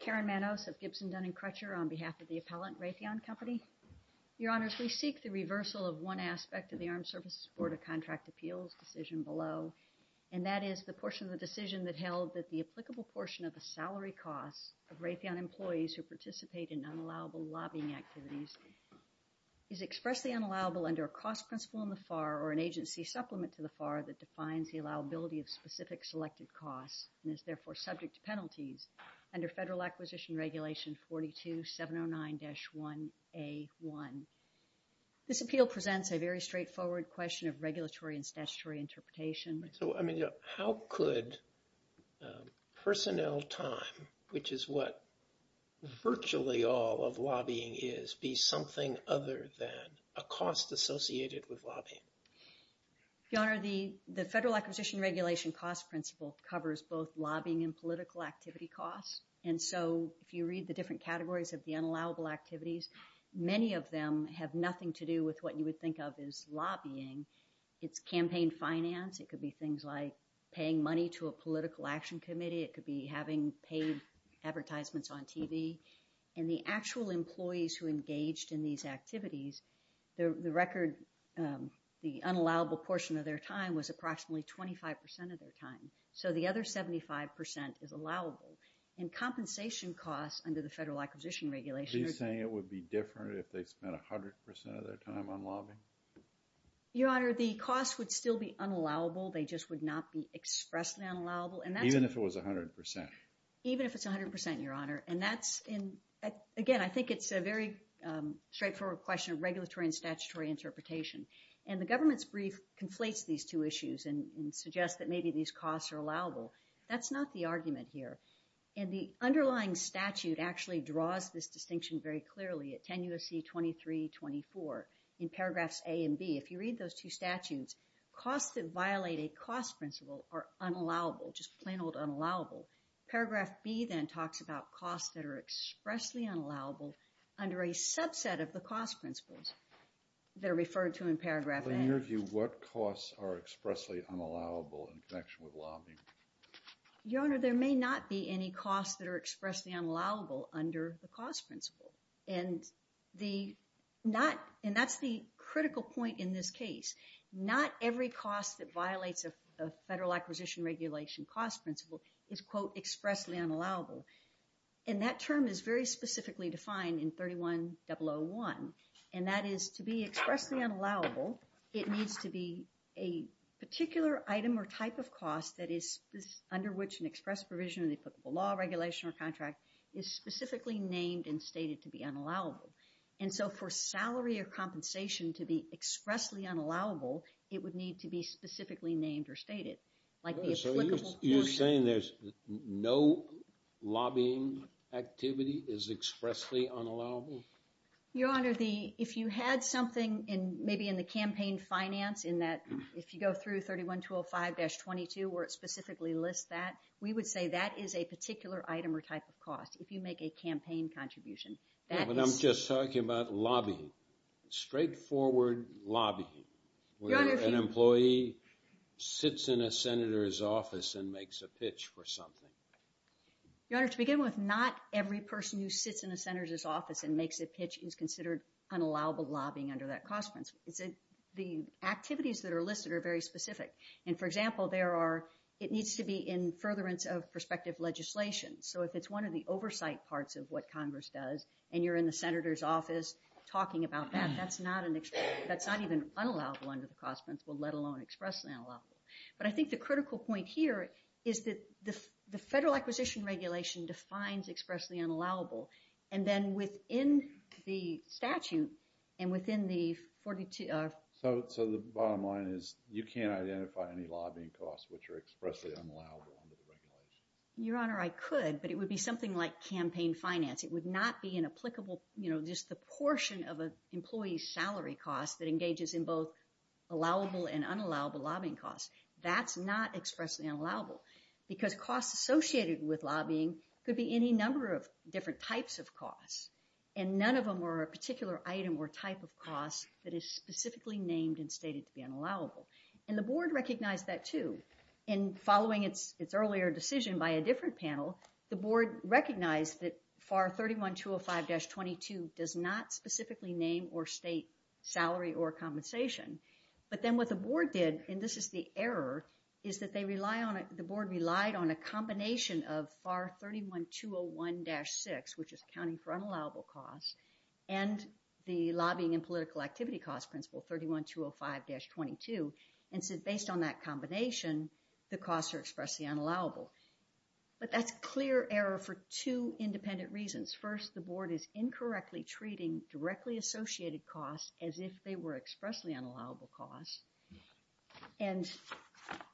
Karen Manos of Gibson, Dun & Crutcher, on behalf of the Appellant, Raytheon Company. Your Honors, we seek the reversal of one aspect of the Armed Services Board of Contract Appeals decision below, and that is the portion of the decision that held that the applicable portion of the salary costs of Raytheon employees who participate in unallowable lobbying activities is expressly unallowable under a cost principle in the FAR or an agency supplement to the FAR that defines the allowability of specific selected costs and is therefore subject to This appeal presents a very straightforward question of regulatory and statutory interpretation. So, I mean, how could personnel time, which is what virtually all of lobbying is, be something other than a cost associated with lobbying? Your Honor, the Federal Acquisition Regulation cost principle covers both lobbying and political activity costs. And so if you read the different categories of the unallowable activities, many of them have nothing to do with what you would think of as lobbying. It's campaign finance. It could be things like paying money to a political action committee. It could be having paid advertisements on TV. And the actual employees who engaged in these activities, the record, the unallowable portion of their time was approximately 25 percent of their time. So the other 75 percent is allowable. And compensation costs under the Federal Acquisition Regulation Are you saying it would be different if they spent 100 percent of their time on lobbying? Your Honor, the cost would still be unallowable. They just would not be expressly unallowable. And that's Even if it was 100 percent? Even if it's 100 percent, Your Honor. And that's in, again, I think it's a very straightforward question of regulatory and statutory interpretation. And the government's brief conflates these two issues and suggests that maybe these costs are allowable. That's not the argument here. And the underlying statute actually draws this distinction very clearly at 10 U.S.C. 2324. In paragraphs A and B, if you read those two statutes, costs that violate a cost principle are unallowable, just plain old unallowable. Paragraph B, then, talks about costs that are expressly unallowable under a subset of the cost principles that are referred to in paragraph A. In your view, what costs are expressly unallowable in connection with lobbying? Your Honor, there may not be any costs that are expressly unallowable under the cost principle. And that's the critical point in this case. Not every cost that violates a Federal Acquisition Regulation cost principle is, quote, expressly unallowable. And that term is very specifically defined in 31001. And that is, to be expressly unallowable, it needs to be a particular item or type of cost that is under which an express provision of the applicable law, regulation, or contract is specifically named and stated to be unallowable. And so for salary or compensation to be expressly unallowable, it would need to be specifically named or stated. So you're saying there's no lobbying activity is expressly unallowable? Your Honor, if you had something, maybe in the campaign finance, in that, if you go through 31205-22, where it specifically lists that, we would say that is a particular item or type of cost, if you make a campaign contribution. Yeah, but I'm just talking about lobbying, straightforward lobbying, where an employee sits in a Senator's office and makes a pitch for something. Your Honor, to begin with, not every person who sits in a Senator's office and makes a pitch is considered unallowable lobbying under that cost principle. The activities that are listed are very specific. And for example, there are, it needs to be in furtherance of prospective legislation. So if it's one of the oversight parts of what Congress does, and you're in the Senator's office talking about that, that's not an, that's not even unallowable under the cost principle, let alone expressly unallowable. But I think the critical point here is that the Federal Acquisition Regulation defines expressly unallowable. And then within the statute, and within the 42... So the bottom line is, you can't identify any lobbying costs which are expressly unallowable under the regulation? Your Honor, I could, but it would be something like campaign finance. It would not be an applicable, you know, just the portion of an employee's salary cost that is expressly unallowable and unallowable lobbying costs. That's not expressly unallowable. Because costs associated with lobbying could be any number of different types of costs. And none of them are a particular item or type of cost that is specifically named and stated to be unallowable. And the Board recognized that too. And following its earlier decision by a different panel, the Board recognized that FAR 31205-22 does not specifically name or state salary or compensation. But then what the Board did, and this is the error, is that the Board relied on a combination of FAR 31201-6, which is accounting for unallowable costs, and the Lobbying and Political Activity Costs Principle 31205-22. And so based on that combination, the costs are expressly unallowable. But that's clear error for two independent reasons. First, the Board is incorrectly treating directly associated costs as if they were expressly unallowable costs. And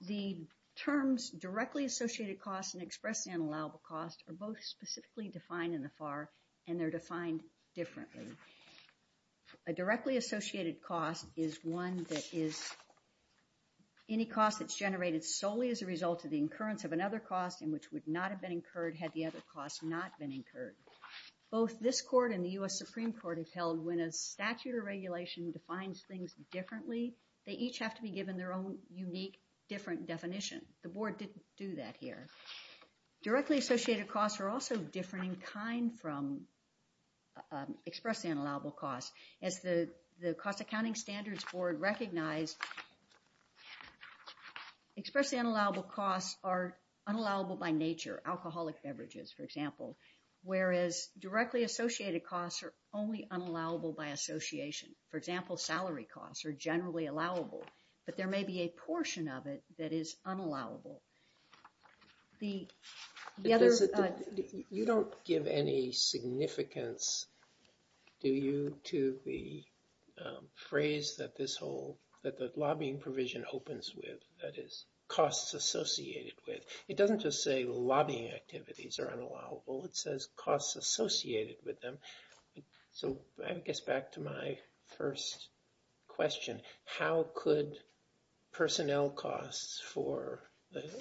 the terms directly associated costs and expressly unallowable costs are both specifically defined in the FAR, and they're defined differently. A directly associated cost is one that is any cost that's generated solely as a result of the incurrence of another cost and which would not have been incurred had the other cost not been incurred. Both this Court and the U.S. Supreme Court have held when a statute or regulation defines things differently, they each have to be given their own unique, different definition. The Board didn't do that here. Directly associated costs are also different in kind from expressly unallowable costs. As the Cost Accounting Standards Board recognized, expressly unallowable costs are unallowable by nature, alcoholic beverages, for example, whereas directly associated costs are only primary costs or generally allowable, but there may be a portion of it that is unallowable. The other... You don't give any significance, do you, to the phrase that this whole, that the lobbying provision opens with, that is, costs associated with. It doesn't just say lobbying activities are unallowable, it says costs associated with them. So I guess back to my first question, how could personnel costs for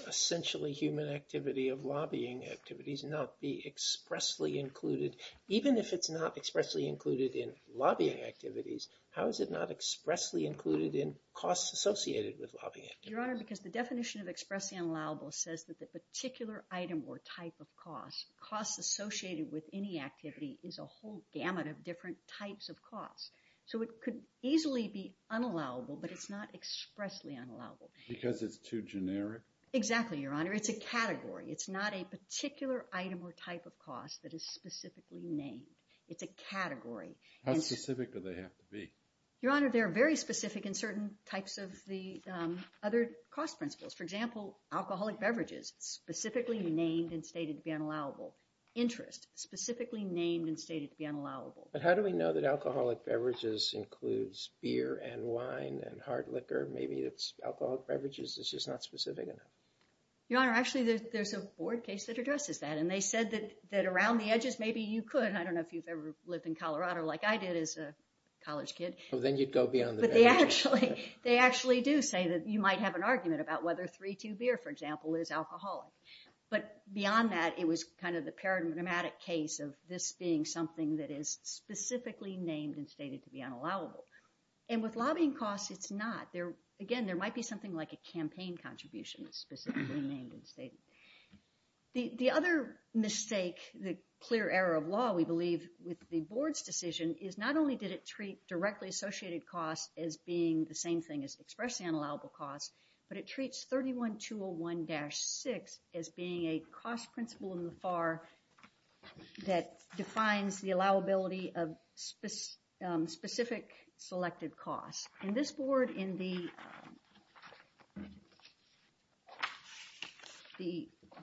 essentially human activity of lobbying activities not be expressly included, even if it's not expressly included in lobbying activities, how is it not expressly included in costs associated with lobbying activities? Your Honor, because the definition of expressly unallowable says that the particular item or type of cost, costs associated with any activity, is a whole gamut of different types of costs. So it could easily be unallowable, but it's not expressly unallowable. Because it's too generic? Exactly, Your Honor, it's a category. It's not a particular item or type of cost that is specifically named. It's a category. How specific do they have to be? Your Honor, they're very specific in certain types of the other cost principles. For example, alcoholic beverages, specifically named and stated to be unallowable. Interest, specifically named and stated to be unallowable. But how do we know that alcoholic beverages includes beer and wine and hard liquor? Maybe it's alcoholic beverages, it's just not specific enough. Your Honor, actually there's a board case that addresses that, and they said that around the edges maybe you could, I don't know if you've ever lived in Colorado like I did as a college kid. Well then you'd go beyond the edges. They actually do say that you might have an argument about whether 3-2 beer, for example, is alcoholic. But beyond that, it was kind of the paramagnetic case of this being something that is specifically named and stated to be unallowable. And with lobbying costs, it's not. Again, there might be something like a campaign contribution that's specifically named and stated. The other mistake, the clear error of law, we believe with the board's decision is not only did it treat directly associated costs as being the same thing as expressly unallowable costs, but it treats 31-201-6 as being a cost principle in the FAR that defines the allowability of specific selected costs. And this board in the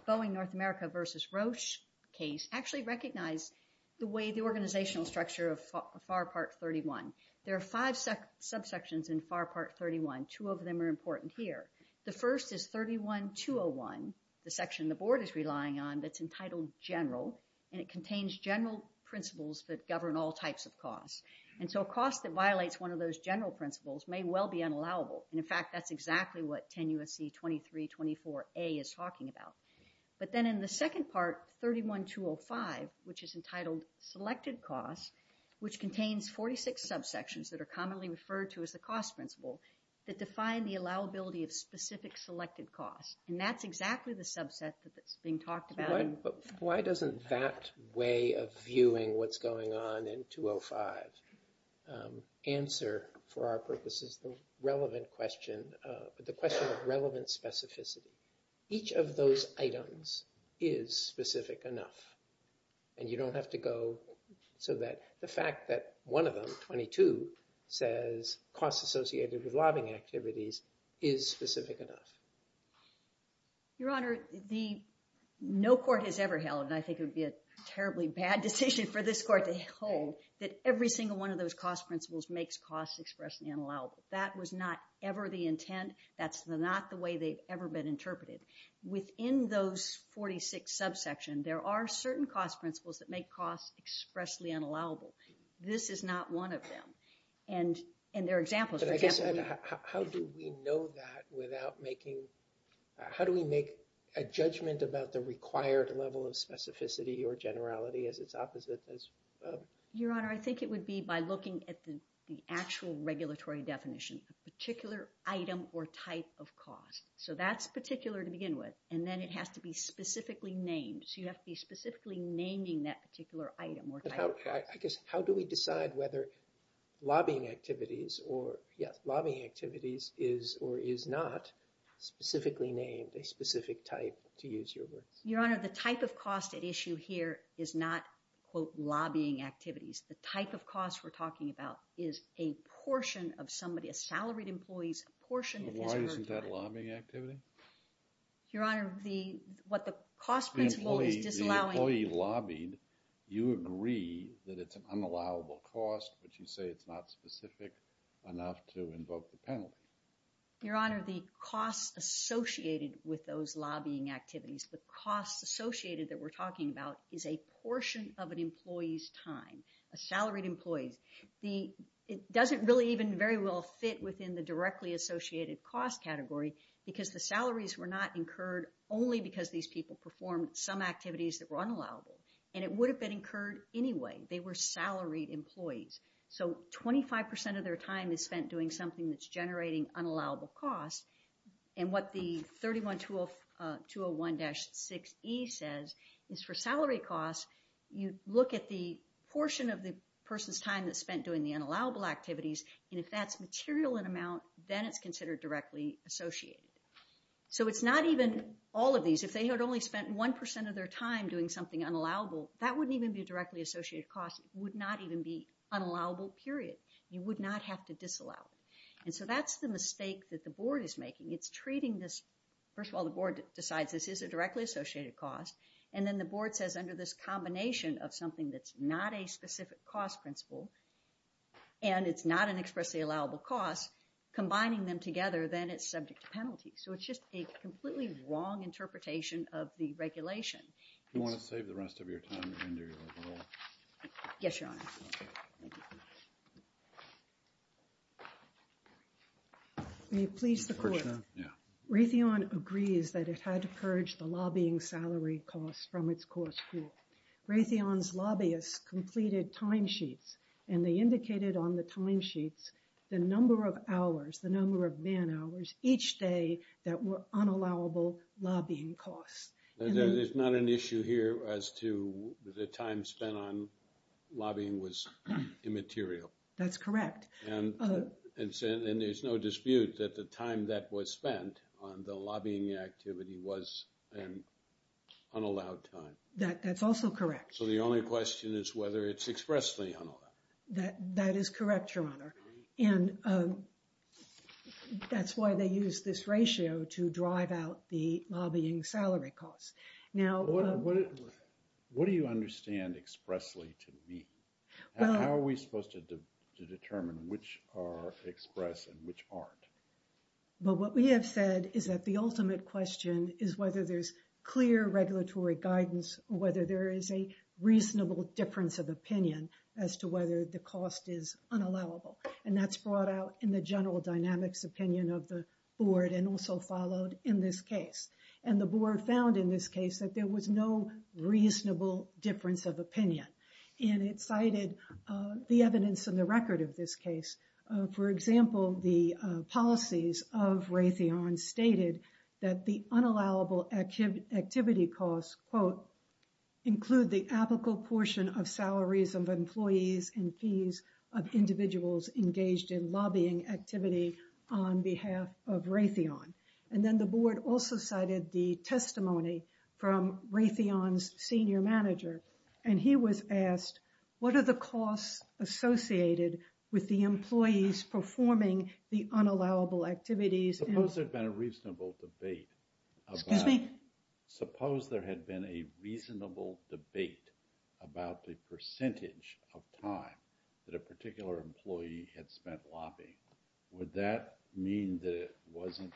Boeing North America versus Roche case actually recognized the organizational structure of FAR Part 31. There are five subsections in FAR Part 31. Two of them are important here. The first is 31-201, the section the board is relying on that's entitled general, and it contains general principles that govern all types of costs. And so a cost that violates one of those general principles may well be unallowable. And in fact, that's exactly what 10 U.S.C. 23-24A is talking about. But then in the second part, 31-205, which is entitled selected costs, which contains 46 subsections that are commonly referred to as the cost principle that define the allowability of specific selected costs. And that's exactly the subset that's being talked about. Why doesn't that way of viewing what's going on in 205 answer for our purposes the relevant question, the question of relevant specificity? Each of those items is specific enough. And you don't have to go so that the fact that one of them, 22, says costs associated with lobbying activities is specific enough. Your Honor, no court has ever held, and I think it would be a terribly bad decision for this court to hold, that every single one of those cost principles makes costs expressly unallowable. That was not ever the intent. That's not the way they've ever been interpreted. Within those 46 subsection, there are certain cost principles that make costs expressly unallowable. This is not one of them. And there are examples. But I guess, how do we know that without making, how do we make a judgment about the required level of specificity or generality as its opposite as? Your Honor, I think it would be by looking at the actual regulatory definition. Particular item or type of cost. So that's particular to begin with. And then it has to be specifically named. So you have to be specifically naming that particular item or type of cost. How do we decide whether lobbying activities or, yes, lobbying activities is or is not specifically named a specific type, to use your words? Your Honor, the type of cost at issue here is not, quote, lobbying activities. The type of cost we're talking about is a portion of somebody, a salaried employee's portion of his or her time. But why isn't that a lobbying activity? Your Honor, the, what the cost principle is disallowing. The employee, the employee lobbied, you agree that it's an unallowable cost, but you say it's not specific enough to invoke the penalty. Your Honor, the costs associated with those lobbying activities, the costs associated that we're talking about is a portion of an employee's time. Salaried employees. The, it doesn't really even very well fit within the directly associated cost category because the salaries were not incurred only because these people performed some activities that were unallowable. And it would have been incurred anyway. They were salaried employees. So 25% of their time is spent doing something that's generating unallowable costs. And what the 31-201-6E says is for salary costs, you look at the portion of the person's time that's spent doing the unallowable activities. And if that's material in amount, then it's considered directly associated. So it's not even all of these. If they had only spent 1% of their time doing something unallowable, that wouldn't even be a directly associated cost. It would not even be unallowable, period. You would not have to disallow it. And so that's the mistake that the board is making. It's treating this, first of all, the board decides this is a directly associated cost. And then the board says under this combination of something that's not a specific cost principle, and it's not an expressly allowable cost, combining them together, then it's subject to penalty. So it's just a completely wrong interpretation of the regulation. You want to save the rest of your time and do your roll? Yes, Your Honor. May it please the Court. Raytheon agrees that it had to purge the lobbying salary costs from its cost pool. Raytheon's lobbyists completed timesheets, and they indicated on the timesheets the number of hours, the number of man-hours each day that were unallowable lobbying costs. There's not an issue here as to the time spent on lobbying was immaterial. That's correct. And there's no dispute that the time that was spent on the lobbying activity was an unallowed time. That's also correct. So the only question is whether it's expressly unallowed. That is correct, Your Honor. And that's why they use this ratio to drive out the lobbying salary costs. What do you understand expressly to me? How are we supposed to determine which are express and which aren't? But what we have said is that the ultimate question is whether there's clear regulatory guidance or whether there is a reasonable difference of opinion as to whether the cost is unallowable. And that's brought out in the general dynamics opinion of the board and also followed in this case. And the board found in this case that there was no reasonable difference of opinion. And it cited the evidence in the record of this case. For example, the policies of Raytheon stated that the unallowable activity costs, quote, include the applicable portion of salaries of employees and fees of individuals engaged in lobbying activity on behalf of Raytheon. And then the board also cited the testimony from Raytheon's senior manager. And he was asked, what are the costs associated with the employees performing the unallowable activities? Suppose there had been a reasonable debate. Excuse me? Suppose there had been a reasonable debate about the percentage of time that a particular employee had spent lobbying. Would that mean that it wasn't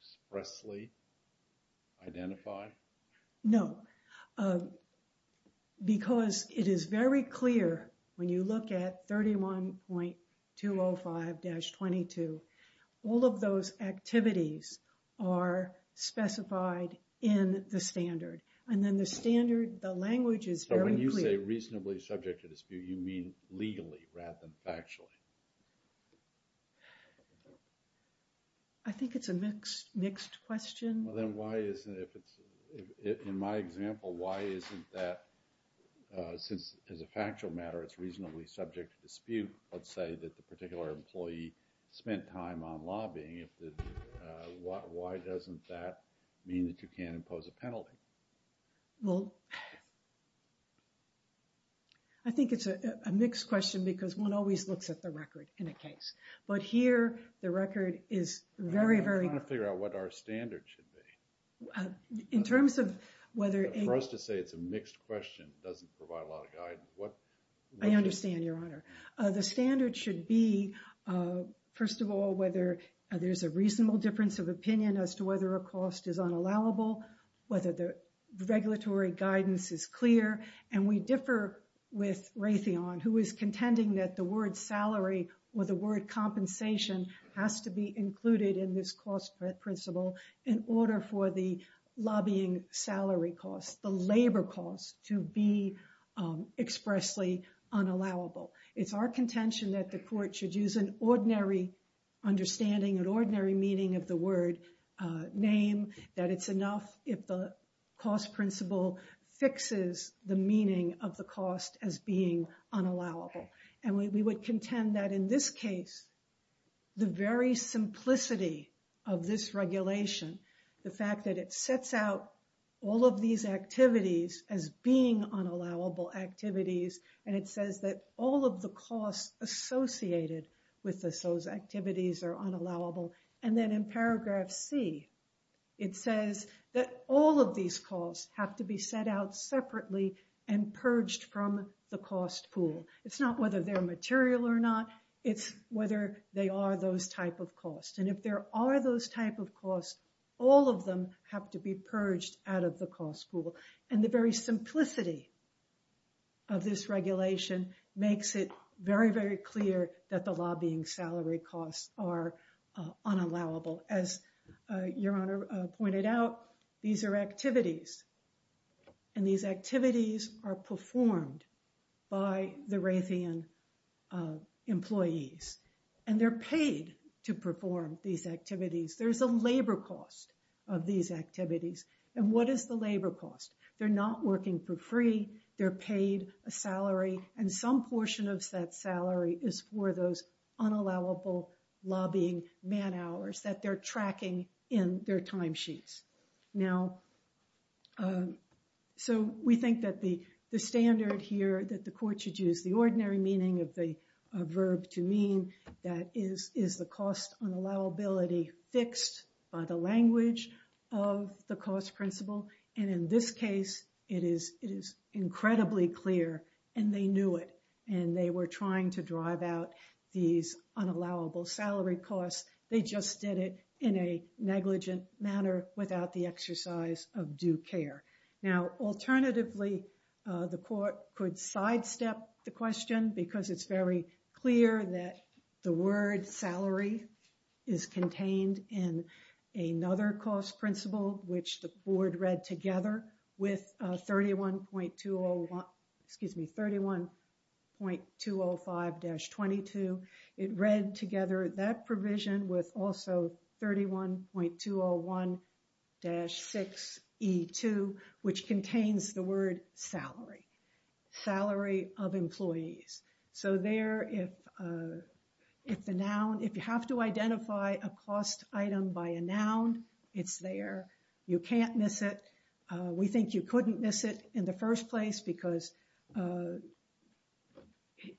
expressly identified? No, because it is very clear when you look at 31.205-22, all of those activities are specified in the standard. And then the standard, the language is very clear. But when you say reasonably subject to dispute, you mean legally rather than factually? I think it's a mixed question. Well, then why isn't it, if it's, in my example, why isn't that, since as a factual matter, it's reasonably subject to dispute. Let's say that the particular employee spent time on lobbying. If the, why doesn't that mean that you can't impose a penalty? Well, I think it's a mixed question because one always looks at the record in a case. But here, the record is very, very... I'm trying to figure out what our standard should be. In terms of whether... For us to say it's a mixed question doesn't provide a lot of guidance. What... I understand, Your Honor. The standard should be, first of all, whether there's a reasonable difference of opinion as to whether a cost is unallowable, whether the regulatory guidance is clear. And we differ with Raytheon, who is contending that the word salary or the word compensation has to be included in this cost principle in order for the lobbying salary cost, the labor cost, to be expressly unallowable. It's our contention that the court should use an ordinary understanding, an ordinary meaning of the word name, that it's enough if the cost principle fixes the meaning of the cost as being unallowable. And we would contend that in this case, the very simplicity of this regulation, the fact that it sets out all of these activities as being unallowable activities, and it says that all of the costs associated with those activities are unallowable. And then in paragraph C, it says that all of these costs have to be set out separately and purged from the cost pool. It's not whether they're material or not, it's whether they are those type of costs. And if there are those type of costs, all of them have to be purged out of the cost pool. And the very simplicity of this regulation makes it very, very clear that the lobbying salary costs are unallowable. As Your Honor pointed out, these are activities, and these activities are performed by the Raytheon employees. And they're paid to perform these activities. There's a labor cost of these activities. And what is the labor cost? They're not working for free. They're paid a salary, and some portion of that salary is for those unallowable lobbying man hours that they're tracking in their timesheets. Now, so we think that the standard here that the court should use the ordinary meaning of the verb to mean that is the cost unallowability fixed by the language of the cost principle. And in this case, it is incredibly clear, and they knew it. And they were trying to drive out these unallowable salary costs. They just did it in a negligent manner without the exercise of due care. Now, alternatively, the court could sidestep the question because it's very clear that the word salary is contained in another cost principle, which the board read together with 31.205-22. It read together that provision with also 31.201-6E2, which contains the word salary. Salary of employees. So there, if the noun, if you have to identify a cost item by a noun, it's there. You can't miss it. We think you couldn't miss it in the first place because the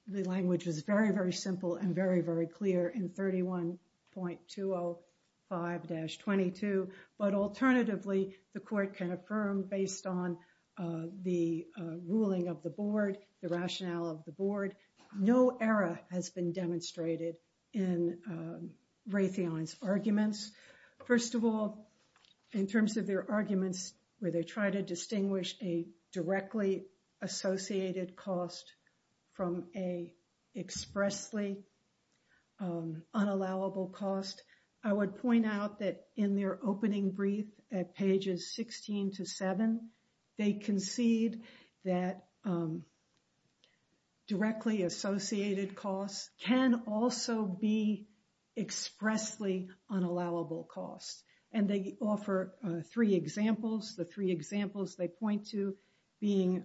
language is very, very simple and very, very clear in 31.205-22. But alternatively, the court can affirm based on the ruling of the board, the rationale of the board. No error has been demonstrated in Raytheon's arguments. First of all, in terms of their arguments where they try to distinguish a directly associated cost from a expressly unallowable cost, I would point out that in their opening brief at pages 16 to 7, they concede that directly associated costs can also be expressly unallowable costs. And they offer three examples. The three examples they point to being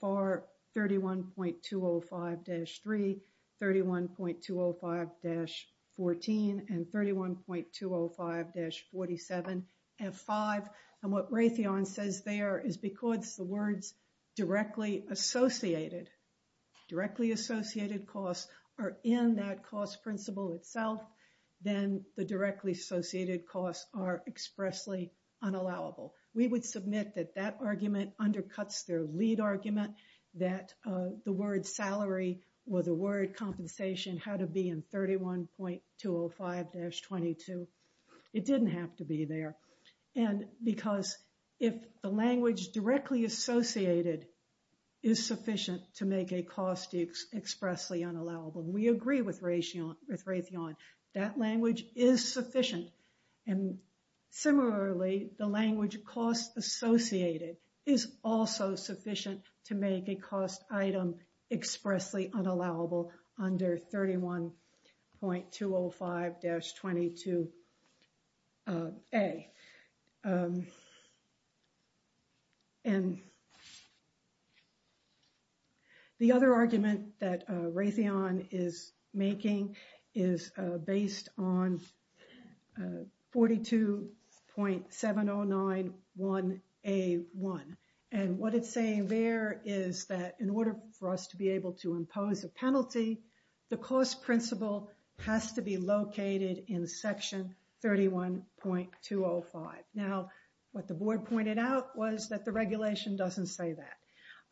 FAR 31.205-3, 31.205-14, and 31.205-47F5. And what Raytheon says there is because the words directly associated, directly associated costs are in that cost principle itself, then the directly associated costs are expressly unallowable. We would submit that that argument undercuts their lead argument that the word salary or the word compensation had to be in 31.205-22. It didn't have to be there. And because if the language directly associated is sufficient to make a cost expressly unallowable, we agree with Raytheon, that language is sufficient. And similarly, the language cost associated is also sufficient to make a cost item expressly unallowable under 31.205-22A. And the other argument that Raytheon is making is based on 42.709-1A1. And what it's saying there is that in order for us to be able to impose a penalty, the cost principle has to be located in section 31.205. Now, what the board pointed out was that the regulation doesn't say that.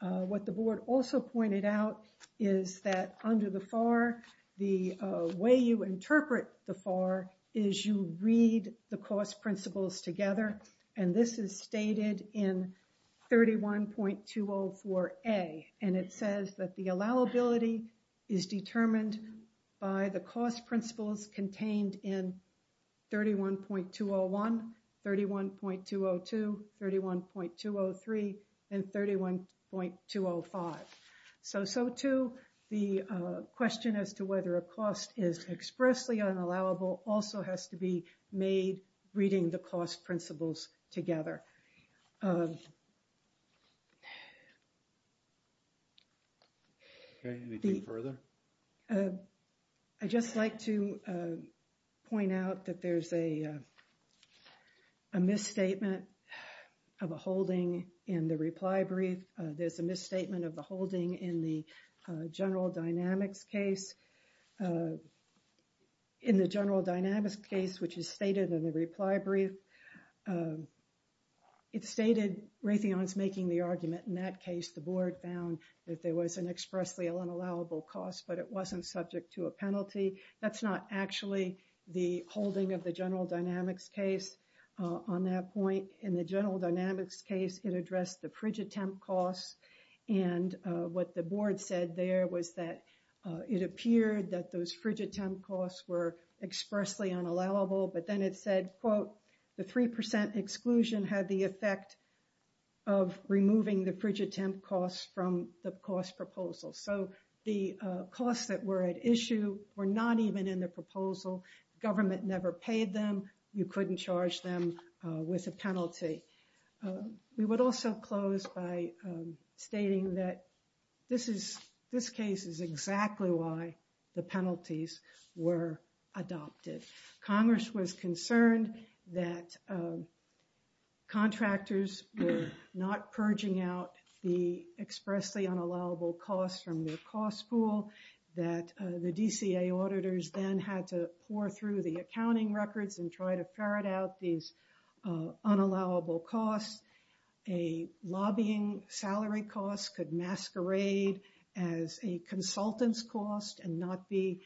What the board also pointed out is that under the FAR, the way you interpret the FAR is you read the cost principles together. And this is stated in 31.204-A. And it says that the allowability is determined by the cost principles contained in 31.201, 31.202, 31.203, and 31.205. So, so too, the question as to whether a cost is expressly unallowable also has to be made reading the cost principles together. Okay, anything further? I'd just like to point out that there's a misstatement of a holding in the reply brief. There's a misstatement of the holding in the General Dynamics case. In the General Dynamics case, which is stated in the reply brief, it stated Raytheon's making the argument. In that case, the board found that there was an expressly unallowable cost, but it wasn't subject to a penalty. That's not actually the holding of the General Dynamics case on that point. In the General Dynamics case, it addressed the Frigid Temp costs. And what the board said there was that it appeared that those Frigid Temp costs were expressly unallowable, but then it said, quote, the 3% exclusion had the effect of removing the Frigid Temp costs from the cost proposal. So the costs that were at issue were not even in the proposal. Government never paid them. You couldn't charge them with a penalty. We would also close by stating that this case is exactly why the penalties were adopted. Congress was concerned that contractors were not purging out the expressly unallowable costs from their cost pool, that the DCA auditors then had to pour through the accounting records and try to ferret out these unallowable costs. A lobbying salary cost could masquerade as a consultant's cost and not be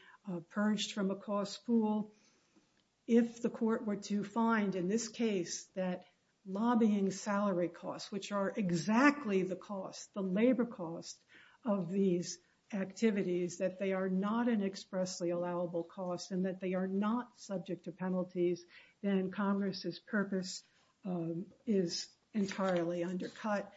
purged from a cost pool. If the court were to find in this case that lobbying salary costs, which are exactly the cost, the labor cost of these activities, that they are not an expressly allowable cost and that they are not subject to penalties, then Congress's purpose is entirely undercut.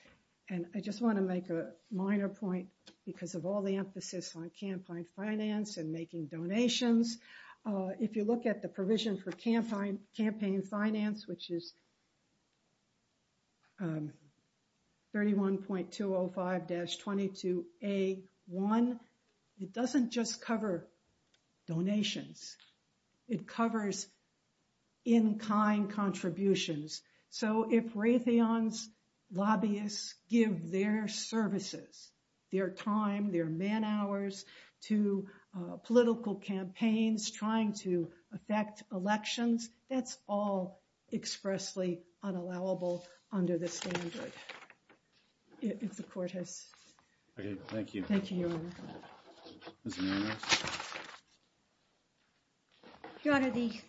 And I just want to make a minor point because of all the emphasis on campaign finance and making donations. If you look at the provision for campaign finance, which is 31.205-22A1, it doesn't just cover donations. It covers in-kind contributions. So if Raytheon's lobbyists give their services, their time, their man-hours to political campaigns, trying to affect elections, that's all expressly unallowable under the standard. If the court has... Okay, thank you. Thank you, Your Honor. Ms. Manners? Your Honor, the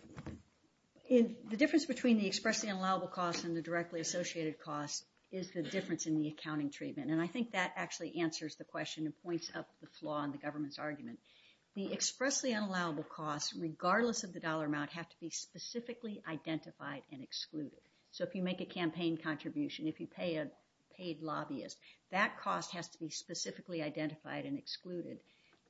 difference between the expressly unallowable costs and the directly associated costs is the difference in the accounting treatment. And I think that actually answers the question and points up the flaw in the government's argument. The expressly unallowable costs, regardless of the dollar amount, have to be specifically identified and excluded. So if you make a campaign contribution, if you pay a paid lobbyist, that cost has to be specifically identified and excluded.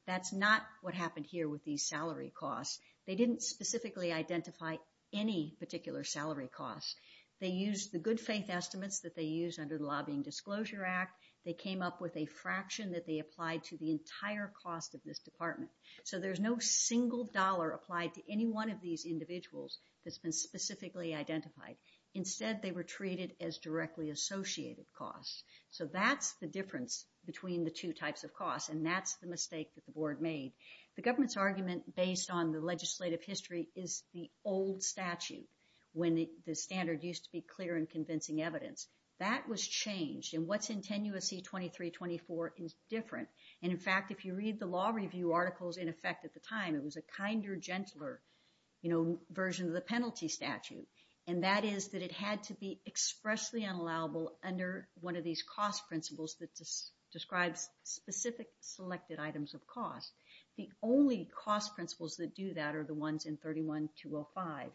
That's not what happened here with these salary costs. They didn't specifically identify any particular salary costs. They used the good faith estimates that they use under the Lobbying Disclosure Act. They came up with a fraction that they applied to the entire cost of this department. So there's no single dollar applied to any one of these individuals that's been specifically identified. Instead, they were treated as directly associated costs. So that's the difference between the two types of costs, and that's the mistake that the board made. The government's argument based on the legislative history is the old statute, when the standard used to be clear and convincing evidence. That was changed, and what's in 10 U.S.C. 23-24 is different. And in fact, if you read the law review articles, in effect at the time, it was a kinder, gentler version of the penalty statute. And that is that it had to be expressly unallowable under one of these cost principles that describes specific selected items of cost. The only cost principles that do that are the ones in 31-205.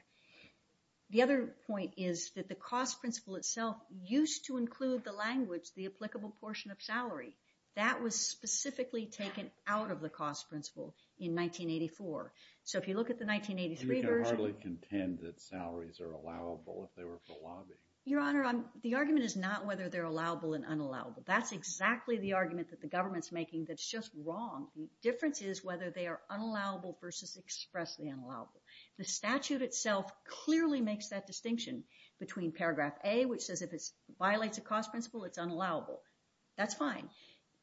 The other point is that the cost principle itself used to include the language, the applicable portion of salary. That was specifically taken out of the cost principle in 1984. So if you look at the 1983 version- You can hardly contend that salaries are allowable if they were for lobbying. Your Honor, the argument is not whether they're allowable and unallowable. That's exactly the argument that the government's making that's just wrong. The difference is whether they are unallowable versus expressly unallowable. The statute itself clearly makes that distinction between paragraph A, which says if it violates a cost principle, it's unallowable. That's fine.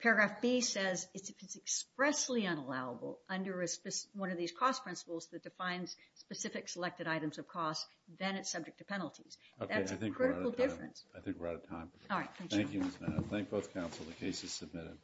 Paragraph B says if it's expressly unallowable under one of these cost principles that defines specific selected items of cost, then it's subject to penalties. That's a critical difference. I think we're out of time. All right, thank you. Thank you, Ms. Madoff. Thank both counsel. The case is submitted.